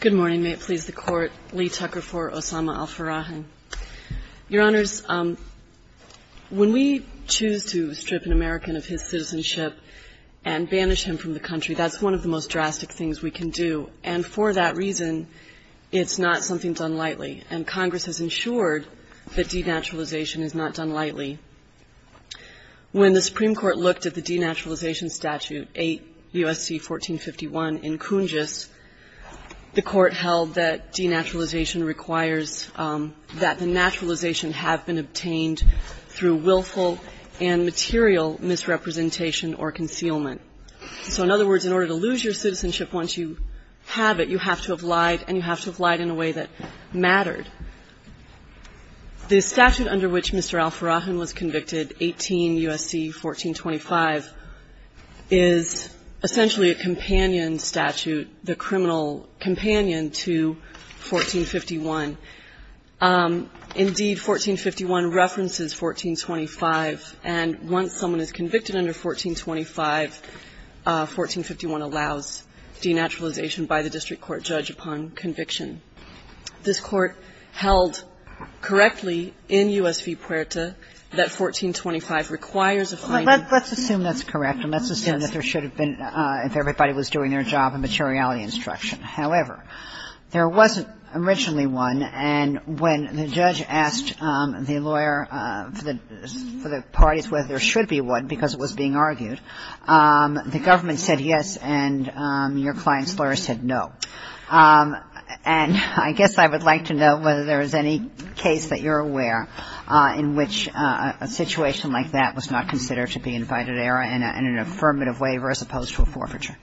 Good morning. May it please the Court. Lee Tucker for Osama Alferahin. Your Honors, when we choose to strip an American of his citizenship and banish him from the country, that's one of the most drastic things we can do. And for that reason, it's not something done lightly. And Congress has ensured that denaturalization is not done lightly. When the Supreme Court looked at the denaturalization statute 8 U.S.C. 1451 in Kunjis, the Court held that denaturalization requires that the naturalization have been obtained through willful and material misrepresentation or concealment. So in other words, in order to lose your citizenship once you have it, you have to have lied, and you have to have lied in a way that mattered. The statute under which Mr. Alferahin was convicted, 18 U.S.C. 1425, is essentially a companion statute, the criminal companion to 1451. Indeed, 1451 references 1425, and once someone is convicted under 1425, 1451 allows denaturalization by the district court judge upon conviction. This Court held correctly in U.S. v. Puerta that 1425 requires a finding. Kagan. Let's assume that's correct, and let's assume that there should have been, if everybody was doing their job, a materiality instruction. However, there wasn't originally one, and when the judge asked the lawyer for the parties whether there should be one because it was being argued, the government said yes, and your client's lawyer said no. And I guess I would like to know whether there is any case that you're aware in which a situation like that was not considered to be invited error and an affirmative waiver as opposed to a forfeiture.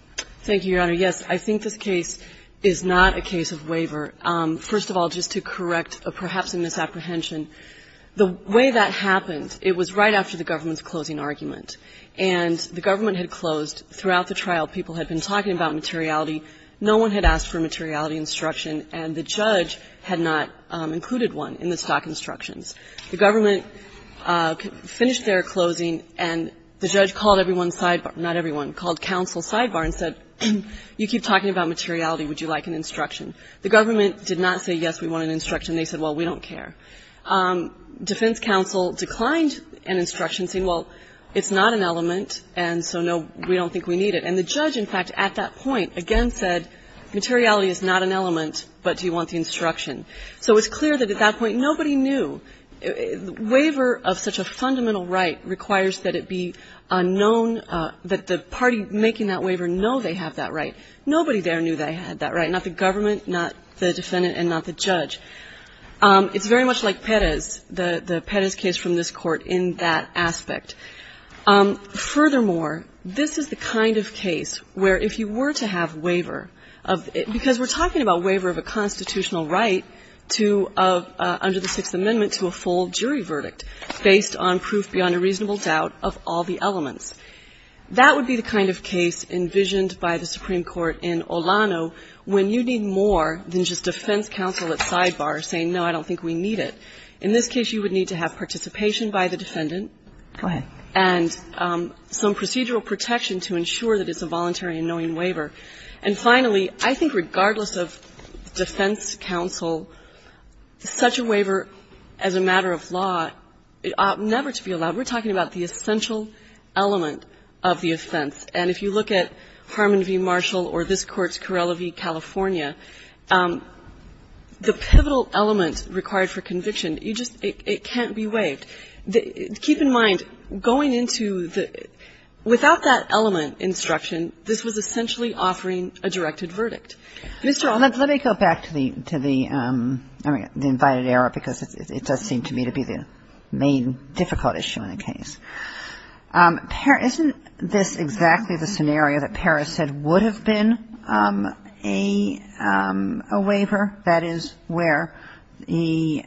Thank you, Your Honor. Yes, I think this case is not a case of waiver. First of all, just to correct perhaps a misapprehension, the way that happened, it was right after the government's closing argument. And the government had closed. Throughout the trial, people had been talking about materiality. No one had asked for a materiality instruction, and the judge had not included one in the stock instructions. The government finished their closing, and the judge called everyone's sidebar — not everyone — called counsel's sidebar and said, you keep talking about materiality. Would you like an instruction? The government did not say, yes, we want an instruction. They said, well, we don't care. Defense counsel declined an instruction, saying, well, it's not an element, and so, no, we don't think we need it. And the judge, in fact, at that point, again, said, materiality is not an element, but do you want the instruction? So it's clear that at that point, nobody knew. Waiver of such a fundamental right requires that it be known — that the party making that waiver know they have that right. Nobody there knew they had that right. Not the government, not the defendant, and not the judge. It's very much like Perez, the Perez case from this Court, in that aspect. Furthermore, this is the kind of case where if you were to have waiver of — because we're talking about waiver of a constitutional right to — under the Sixth Amendment to a full jury verdict based on proof beyond a reasonable doubt of all the elements. That would be the kind of case envisioned by the Supreme Court in Olano when you need more than just defense counsel at sidebar saying, no, I don't think we need it. In this case, you would need to have participation by the defendant. And some procedural protection to ensure that it's a voluntary and knowing waiver. And finally, I think regardless of defense counsel, such a waiver as a matter of law ought never to be allowed. We're talking about the essential element of the offense. And if you look at Harmon v. Marshall or this Court's Carrella v. California, the pivotal element required for conviction, you just — it can't be waived. Keep in mind, going into the — without that element instruction, this was essentially offering a directed verdict. Mr. Alito, let me go back to the — I mean, the invited error, because it does seem to me to be the main difficult issue in the case. Isn't this exactly the scenario that Paris said would have been a waiver? That is, where the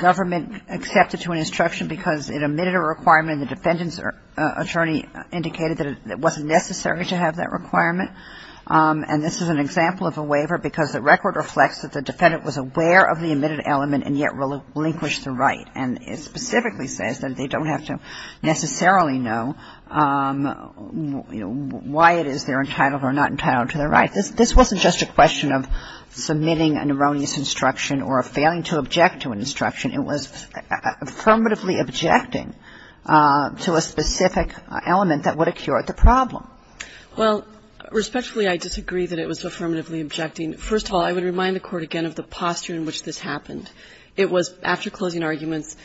government accepted to an instruction because it omitted a requirement and the defendant's attorney indicated that it wasn't necessary to have that requirement. And this is an example of a waiver because the record reflects that the defendant was aware of the omitted element and yet relinquished the right. And it specifically says that they don't have to necessarily know, you know, why it is they're entitled or not entitled to the right. This wasn't just a question of submitting an erroneous instruction or of failing to object to an instruction. It was affirmatively objecting to a specific element that would have cured the problem. Well, respectfully, I disagree that it was affirmatively objecting. First of all, I would remind the Court again of the posture in which this happened. It was after closing arguments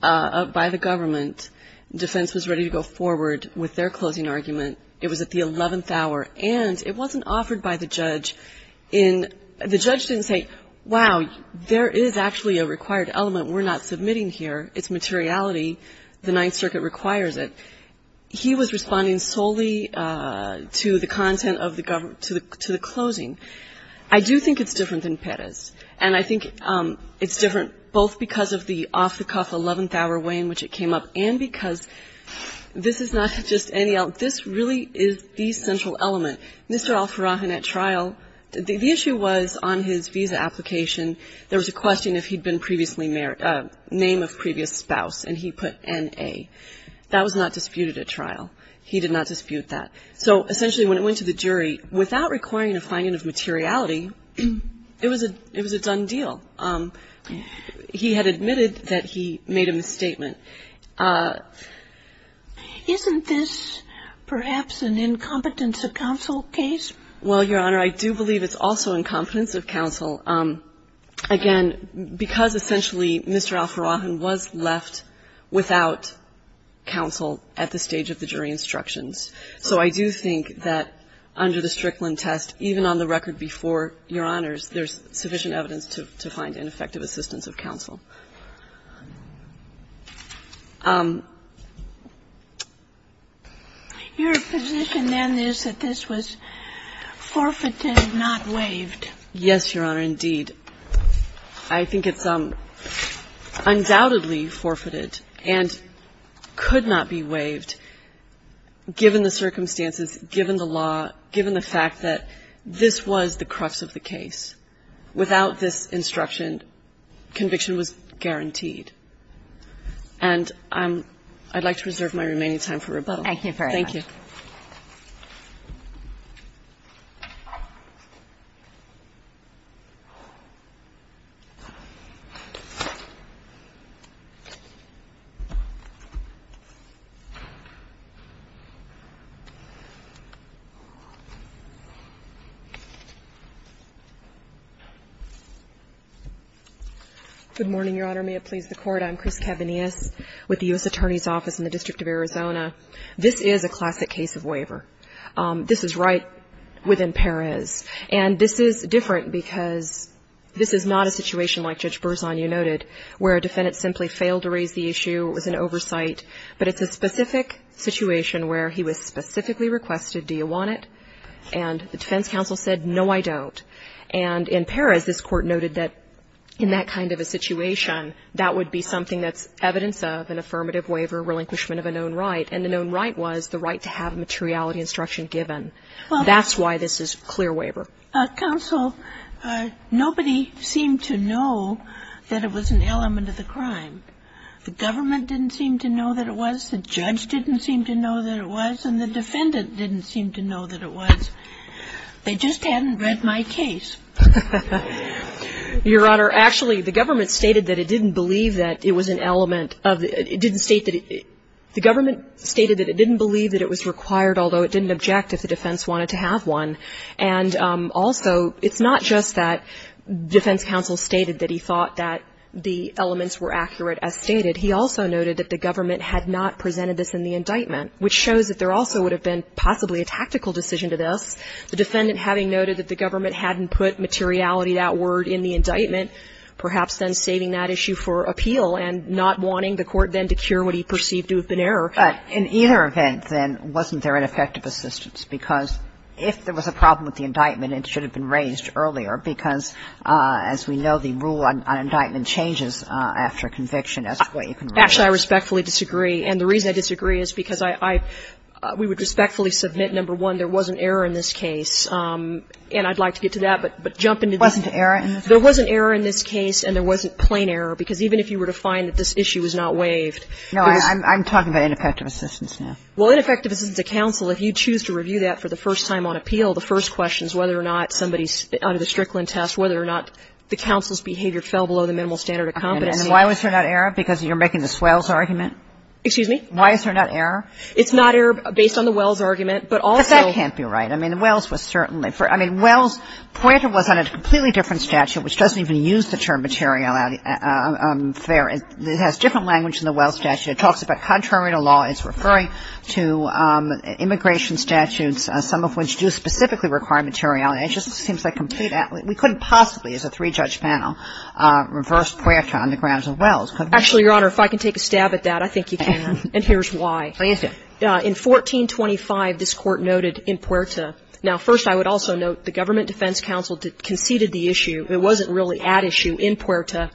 by the government. Defense was ready to go forward with their closing argument. It was at the 11th hour, and it wasn't offered by the judge in the judge didn't say, wow, there is actually a required element we're not submitting here. It's materiality. The Ninth Circuit requires it. He was responding solely to the content of the government, to the closing. I do think it's different than Paris. And I think it's different both because of the off-the-cuff 11th hour way in which it came up and because this is not just any, this really is the central element. Mr. Al-Farrahan at trial, the issue was on his visa application, there was a question if he'd been previously married, name of previous spouse, and he put N-A. That was not disputed at trial. He did not dispute that. So essentially, when it went to the jury, without requiring a finding of materiality, it was a done deal. He had admitted that he made a misstatement. Isn't this perhaps an incompetence of counsel case? Well, Your Honor, I do believe it's also incompetence of counsel. Again, because essentially, Mr. Al-Farrahan was left without counsel at the stage of the jury instructions. So I do think that under the Strickland test, even on the record before Your Honor's, there's sufficient evidence to find ineffective assistance of counsel. Your position then is that this was forfeited, not waived. Yes, Your Honor, indeed. I think it's undoubtedly forfeited and could not be waived given the circumstances, given the law, given the fact that this was the crux of the case. Without this instruction, conviction was guaranteed. And I'd like to reserve my remaining time for rebuttal. Thank you very much. Thank you. Good morning, Your Honor. May it please the Court. I'm Chris Cavanius with the U.S. Attorney's Office in the District of Arizona. This is a classic case of waiver. This is right within Perez. And this is different because this is not a situation like Judge Berzon, you noted, where a defendant simply failed to raise the issue, it was an oversight. But it's a specific situation where he was specifically requested, do you want it? And the defense counsel said, no, I don't. And in Perez, this court noted that in that kind of a situation, that would be something that's evidence of an affirmative waiver relinquishment of a known right. And the known right was the right to have materiality instruction given. That's why this is clear waiver. Counsel, nobody seemed to know that it was an element of the crime. The government didn't seem to know that it was. The judge didn't seem to know that it was. And the defendant didn't seem to know that it was. They just hadn't read my case. Your Honor, actually, the government stated that it didn't believe that it was an element of the – it didn't state that it – the government stated that it didn't believe that it was required, although it didn't object if the defense wanted to have one. And also, it's not just that defense counsel stated that he thought that the elements were accurate as stated. He also noted that the government had not presented this in the indictment, which shows that there also would have been possibly a tactical decision to this, the defendant having noted that the government hadn't put materiality, that word, in the indictment, perhaps then saving that issue for appeal and not wanting the court then to cure what he perceived to have been error. But in either event, then, wasn't there an effective assistance? Because if there was a problem with the indictment, it should have been raised earlier because, as we know, the rule on indictment changes after conviction. Actually, I respectfully disagree. And the reason I disagree is because I – we would respectfully submit, number one, there was an error in this case. And I'd like to get to that, but jump into the – Wasn't there an error in this case? There was an error in this case, and there wasn't plain error. Because even if you were to find that this issue was not waived – No, I'm talking about ineffective assistance now. Well, ineffective assistance to counsel, if you choose to review that for the first time on appeal, the first question is whether or not somebody's – under the Strickland test, whether or not the counsel's behavior fell below the minimal standard of competency. And why was there not error? Because you're making the Swells argument? Excuse me? Why is there not error? It's not error based on the Wells argument, but also – But that can't be right. I mean, Wells was certainly – I mean, Wells' pointer was on a completely different statute, which doesn't even use the term materiality. It has different language than the Wells statute. It talks about contrarian law. It's referring to immigration statutes, some of which do specifically require materiality. It just seems like complete – we couldn't possibly, as a three-judge panel, reverse Puerta on the grounds of Wells, could we? Actually, Your Honor, if I can take a stab at that, I think you can, and here's why. Please do. In 1425, this Court noted in Puerta – now, first, I would also note the government defense counsel conceded the issue. It wasn't really at issue in Puerta.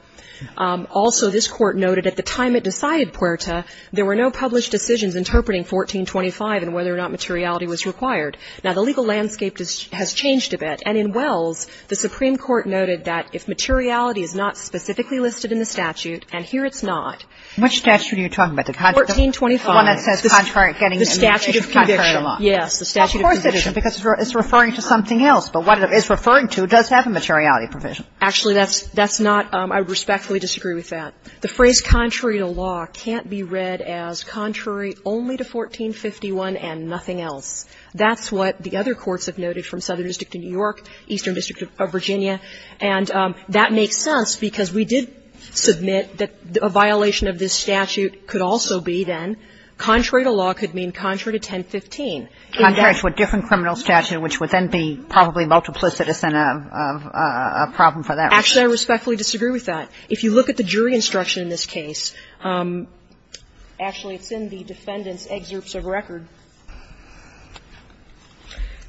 Also, this Court noted at the time it decided Puerta, there were no published decisions interpreting 1425 and whether or not materiality was required. Now, the legal landscape has changed a bit, and in Wells, the Supreme Court noted that if materiality is not specifically listed in the statute, and here it's not. Which statute are you talking about? The one that says contrarian, getting immigration, contrarian law? Yes, the statute of conviction. Well, of course it is, because it's referring to something else. But what it is referring to does have a materiality provision. Actually, that's not – I respectfully disagree with that. The phrase contrary to law can't be read as contrary only to 1451 and nothing else. That's what the other courts have noted from Southern District of New York, Eastern District of Virginia, and that makes sense, because we did submit that a violation of this statute could also be, then, contrary to law could mean contrary to 1015. Contrary to a different criminal statute, which would then be probably multiplicitous and a problem for that reason. Actually, I respectfully disagree with that. If you look at the jury instruction in this case, actually, it's in the defendant's excerpts of record,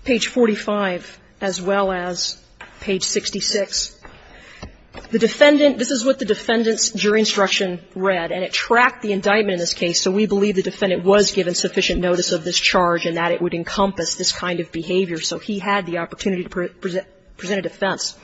page 45, as well as page 66. The defendant – this is what the defendant's jury instruction read, and it tracked the indictment in this case, so we believe the defendant was given sufficient notice of this charge and that it would encompass this kind of behavior. So he had the opportunity to present a defense.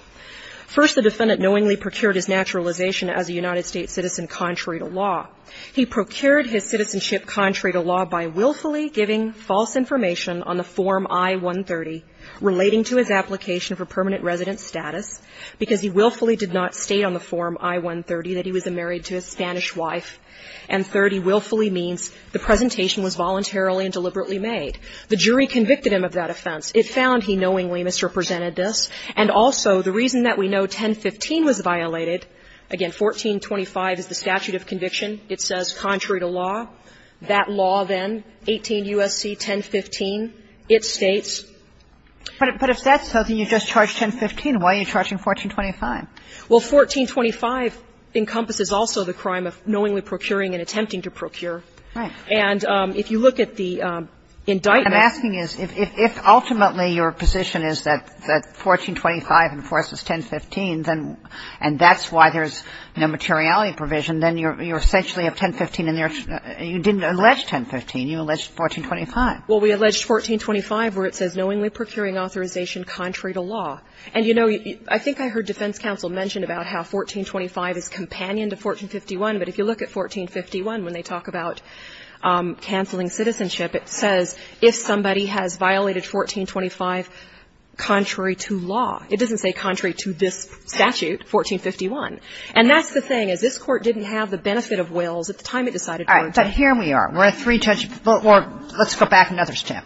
First, the defendant knowingly procured his naturalization as a United States citizen contrary to law. He procured his citizenship contrary to law by willfully giving false information on the Form I-130 relating to his application for permanent resident status, because he willfully did not state on the Form I-130 that he was married to a Spanish wife. And, third, he willfully means the presentation was voluntarily and deliberately made. The jury convicted him of that offense. It found he knowingly misrepresented this. And also, the reason that we know 1015 was violated, again, 1425 is the statute of conviction. It says contrary to law, that law then, 18 U.S.C. 1015, it states. But if that's so, then you just charged 1015. Why are you charging 1425? Well, 1425 encompasses also the crime of knowingly procuring and attempting to procure. Right. And if you look at the indictment. What I'm asking is, if ultimately your position is that 1425 enforces 1015, and that's why there's no materiality provision, then you're essentially of 1015 and you didn't allege 1015, you alleged 1425. Well, we alleged 1425 where it says knowingly procuring authorization contrary to law. And, you know, I think I heard defense counsel mention about how 1425 is companion to 1451. But if you look at 1451, when they talk about canceling citizenship, it says if somebody has violated 1425 contrary to law. It doesn't say contrary to this statute, 1451. And that's the thing, is this Court didn't have the benefit of wills at the time it decided to work. All right. But here we are. We're at three judgments. Let's go back another step.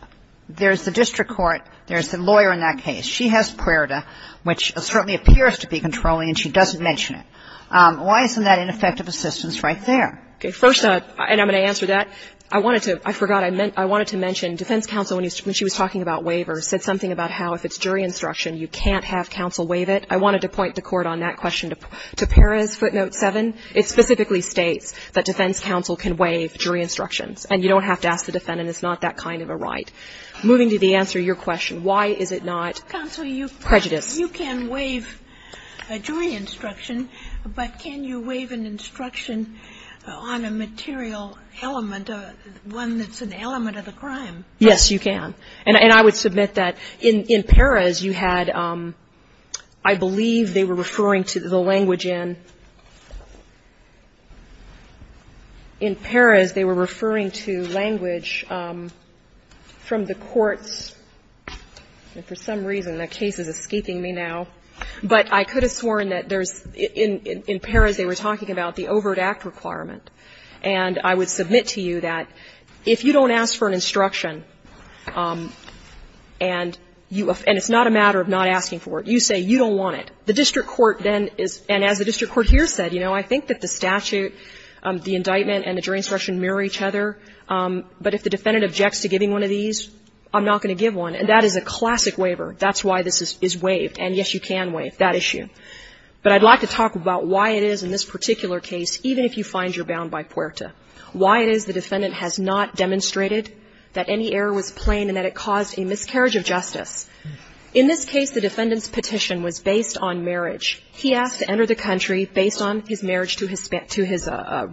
There's the district court. There's the lawyer in that case. She has PRERTA, which certainly appears to be controlling, and she doesn't mention it. Why isn't that ineffective assistance right there? First, and I'm going to answer that, I wanted to – I forgot. I wanted to mention defense counsel, when she was talking about waivers, said something about how if it's jury instruction, you can't have counsel waive it. I wanted to point the Court on that question to Perez, footnote 7. It specifically states that defense counsel can waive jury instructions, and you don't have to ask the defendant. It's not that kind of a right. Moving to the answer to your question, why is it not prejudice? Ginsburg-McGillivray-Hillman, Jr.: Counsel, you can waive a jury instruction, but can you waive an instruction on a material element, one that's an element of the crime? Yes, you can. And I would submit that in Perez, you had, I believe they were referring to the language from the courts, and for some reason, that case is escaping me now, but I could have sworn that there's, in Perez, they were talking about the overt act requirement. And I would submit to you that if you don't ask for an instruction, and it's not a matter of not asking for it, you say you don't want it, the district court then is – and as the district court here said, you know, I think that the statute, the indictment and the jury instruction mirror each other, but if the defendant objects to giving one of these, I'm not going to give one. And that is a classic waiver. That's why this is waived. And, yes, you can waive that issue. But I'd like to talk about why it is in this particular case, even if you find you're bound by puerta, why it is the defendant has not demonstrated that any error was plain and that it caused a miscarriage of justice. In this case, the defendant's petition was based on marriage. He asked to enter the country based on his marriage to his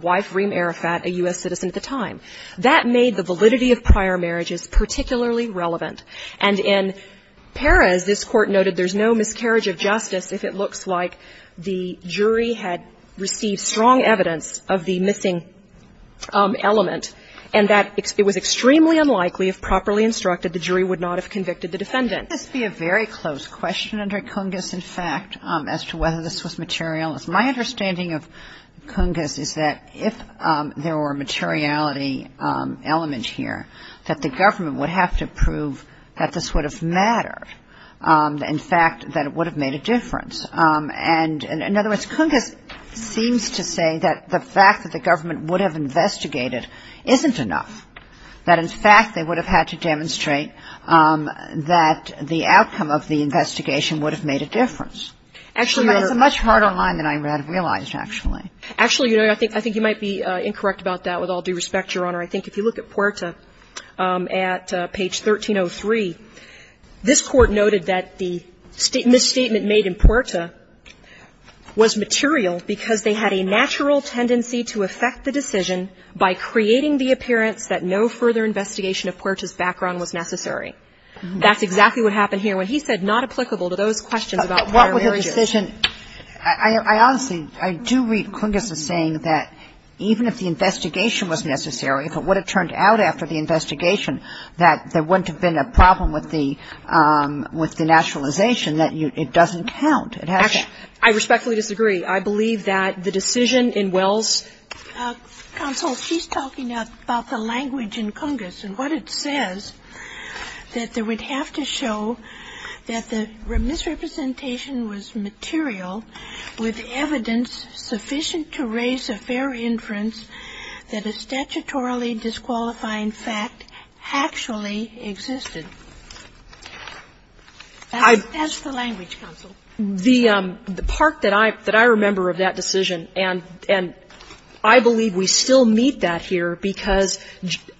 wife, Reem Arafat, a U.S. citizen at the time. That made the validity of prior marriages particularly relevant. And in Perez, this Court noted there's no miscarriage of justice if it looks like the jury had received strong evidence of the missing element and that it was extremely unlikely, if properly instructed, the jury would not have convicted the defendant. This would be a very close question under Cungas, in fact, as to whether this was material. My understanding of Cungas is that if there were a materiality element here, that the government would have to prove that this would have mattered, in fact, that it would have made a difference. And, in other words, Cungas seems to say that the fact that the government would have investigated isn't enough, that, in fact, they would have had to demonstrate that the outcome of the investigation would have made a difference. Actually, there's a much harder line than I had realized, actually. Actually, I think you might be incorrect about that, with all due respect, Your Honor. I think if you look at Puerta at page 1303, this Court noted that the statement made in Puerta was material because they had a natural tendency to affect the decision by creating the appearance that no further investigation of Puerta's background was necessary. That's exactly what happened here when he said not applicable to those questions about prior marriages. But what was the decision? I honestly, I do read Cungas as saying that even if the investigation was necessary, if it would have turned out after the investigation, that there wouldn't have been a problem with the naturalization, that it doesn't count. It has to. Actually, I respectfully disagree. I believe that the decision in Wells' counsel, she's talking about the language in Cungas and what it says, that they would have to show that the misrepresentation was material with evidence sufficient to raise a fair inference that a statutorily disqualifying fact actually existed. That's the language, counsel. The part that I remember of that decision, and I believe we still meet that here because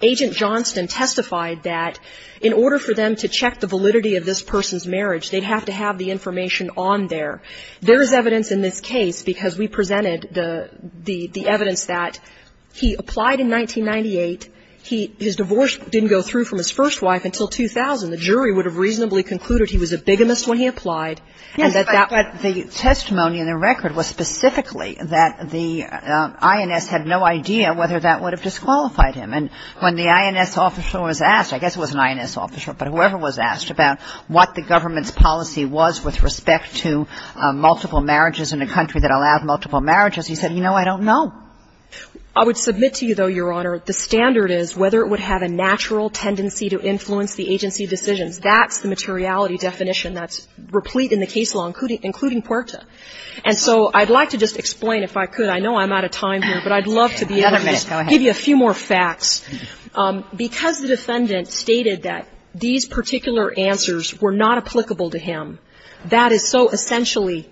Agent Johnston testified that in order for them to check the validity of this person's marriage, they'd have to have the information on there. There is evidence in this case, because we presented the evidence that he applied in 1998. His divorce didn't go through from his first wife until 2000. The jury would have reasonably concluded he was a bigamist when he applied. Yes, but the testimony in the record was specifically that the INS had no idea whether that would have disqualified him. And when the INS officer was asked, I guess it was an INS officer, but whoever was asked about what the government's policy was with respect to multiple marriages in a country that allowed multiple marriages, he said, you know, I don't know. I would submit to you, though, Your Honor, the standard is whether it would have a natural tendency to influence the agency decisions. That's the materiality definition that's replete in the case law, including PUERTA. And so I'd like to just explain, if I could, I know I'm out of time here, but I'd love to be able to just give you a few more facts. Because the defendant stated that these particular answers were not applicable to him, that is so essentially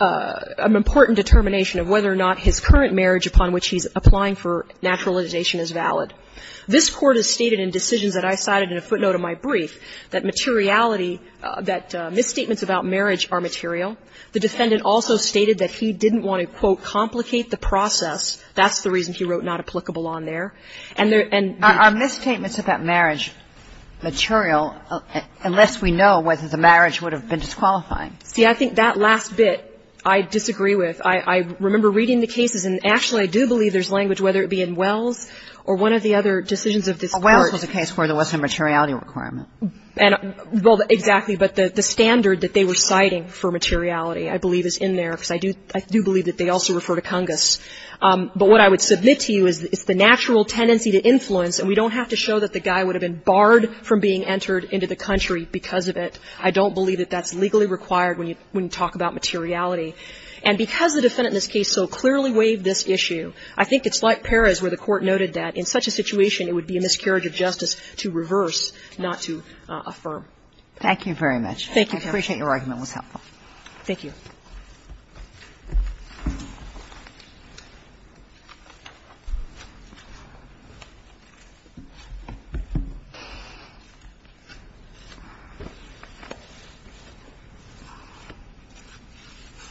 an important determination of whether or not his current marriage upon which he's applying for naturalization is valid. This Court has stated in decisions that I cited in a footnote of my brief that materiality that misstatements about marriage are material. The defendant also stated that he didn't want to, quote, complicate the process. That's the reason he wrote not applicable on there. And there are misstatements about marriage material unless we know whether the marriage would have been disqualifying. See, I think that last bit I disagree with. I remember reading the cases, and actually I do believe there's language, whether it be in Wells or one of the other decisions of this Court. Well, Wells was a case where there wasn't a materiality requirement. And well, exactly. But the standard that they were citing for materiality, I believe, is in there, because I do believe that they also refer to Congus. But what I would submit to you is it's the natural tendency to influence, and we don't have to show that the guy would have been barred from being entered into the country because of it. I don't believe that that's legally required when you talk about materiality. And because the defendant in this case so clearly waived this issue, I think it's like Perez where the Court noted that in such a situation it would be a miscarriage of justice to reverse, not to affirm. Thank you. Kagan. Roberts. Thank you. I appreciate your argument. It was helpful. Thank you.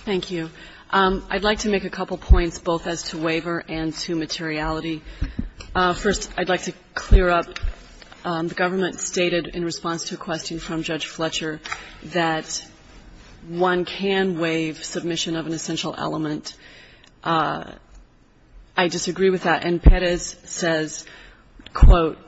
Thank you. I'd like to make a couple points, both as to waiver and to materiality. First, I'd like to clear up the government stated in response to a question from the jury that one can waive submission of an essential element. I disagree with that. And Perez says, quote,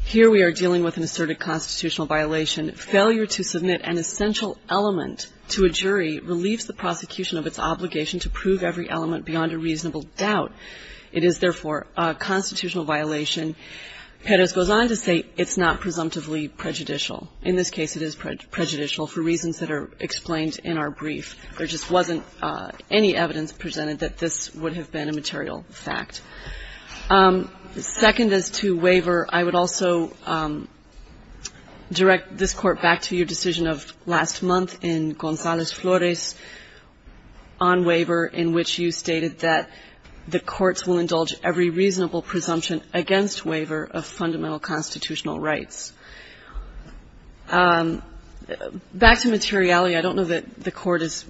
here we are dealing with an asserted constitutional violation. Failure to submit an essential element to a jury relieves the prosecution of its obligation to prove every element beyond a reasonable doubt. It is, therefore, a constitutional violation. Perez goes on to say it's not presumptively prejudicial. In this case, it is prejudicial for reasons that are explained in our brief. There just wasn't any evidence presented that this would have been a material fact. Second, as to waiver, I would also direct this Court back to your decision of last month in Gonzales-Flores on waiver, in which you stated that the courts will indulge every reasonable presumption against waiver of fundamental constitutional rights. Back to materiality, I don't know that the Court is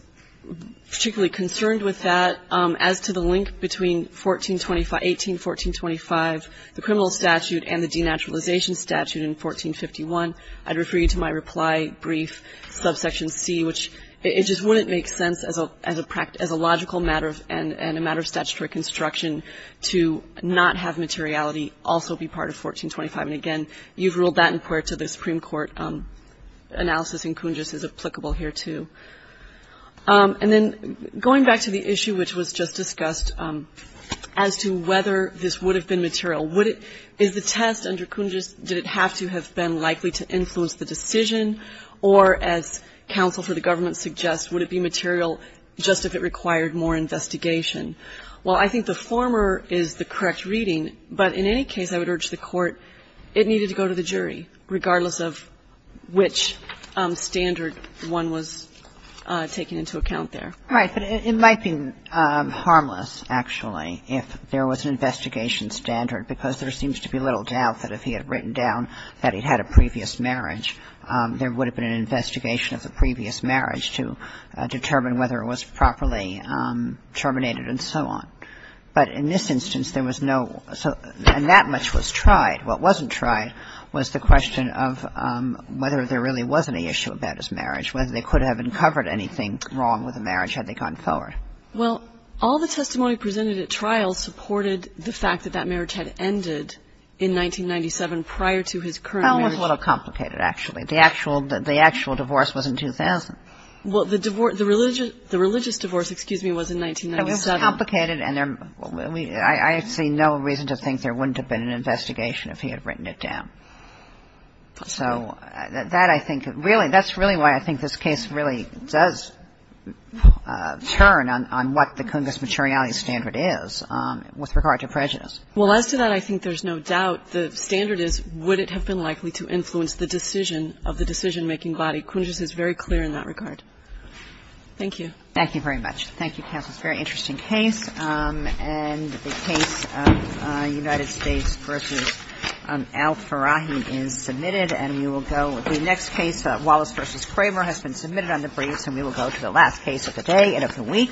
particularly concerned with that. As to the link between 1425 18, 1425, the criminal statute and the denaturalization statute in 1451, I'd refer you to my reply brief, subsection C, which it just wouldn't make sense as a logical matter and a matter of statutory construction to not have materiality also be part of 1425. And, again, you've ruled that in part to the Supreme Court analysis, and Kungis is applicable here, too. And then going back to the issue which was just discussed as to whether this would have been material, would it be the test under Kungis, did it have to have been likely to influence the decision, or as counsel for the government suggests, would it be material just if it required more investigation? Well, I think the former is the correct reading, but in any case, I would urge the in the case, it needed to go to the jury, regardless of which standard one was taking into account there. Right. But it might be harmless, actually, if there was an investigation standard, because there seems to be little doubt that if he had written down that he had a previous marriage, there would have been an investigation of the previous marriage to determine whether it was properly terminated and so on. But in this instance, there was no so – and that much was tried. What wasn't tried was the question of whether there really wasn't an issue about his marriage, whether they could have uncovered anything wrong with the marriage had they gone forward. Well, all the testimony presented at trial supported the fact that that marriage had ended in 1997 prior to his current marriage. Well, it was a little complicated, actually. The actual divorce was in 2000. Well, the religious divorce, excuse me, was in 1997. It was complicated, and I see no reason to think there wouldn't have been an investigation if he had written it down. So that, I think, really – that's really why I think this case really does turn on what the Cungus materiality standard is with regard to prejudice. Well, as to that, I think there's no doubt. The standard is would it have been likely to influence the decision of the decision-making body. Cungus is very clear in that regard. Thank you. Thank you very much. Thank you, counsel. It's a very interesting case. And the case of United States v. Al-Farahi is submitted, and we will go – the next case, Wallace v. Kramer, has been submitted on the briefs, and we will go to the last case of the day and of the week.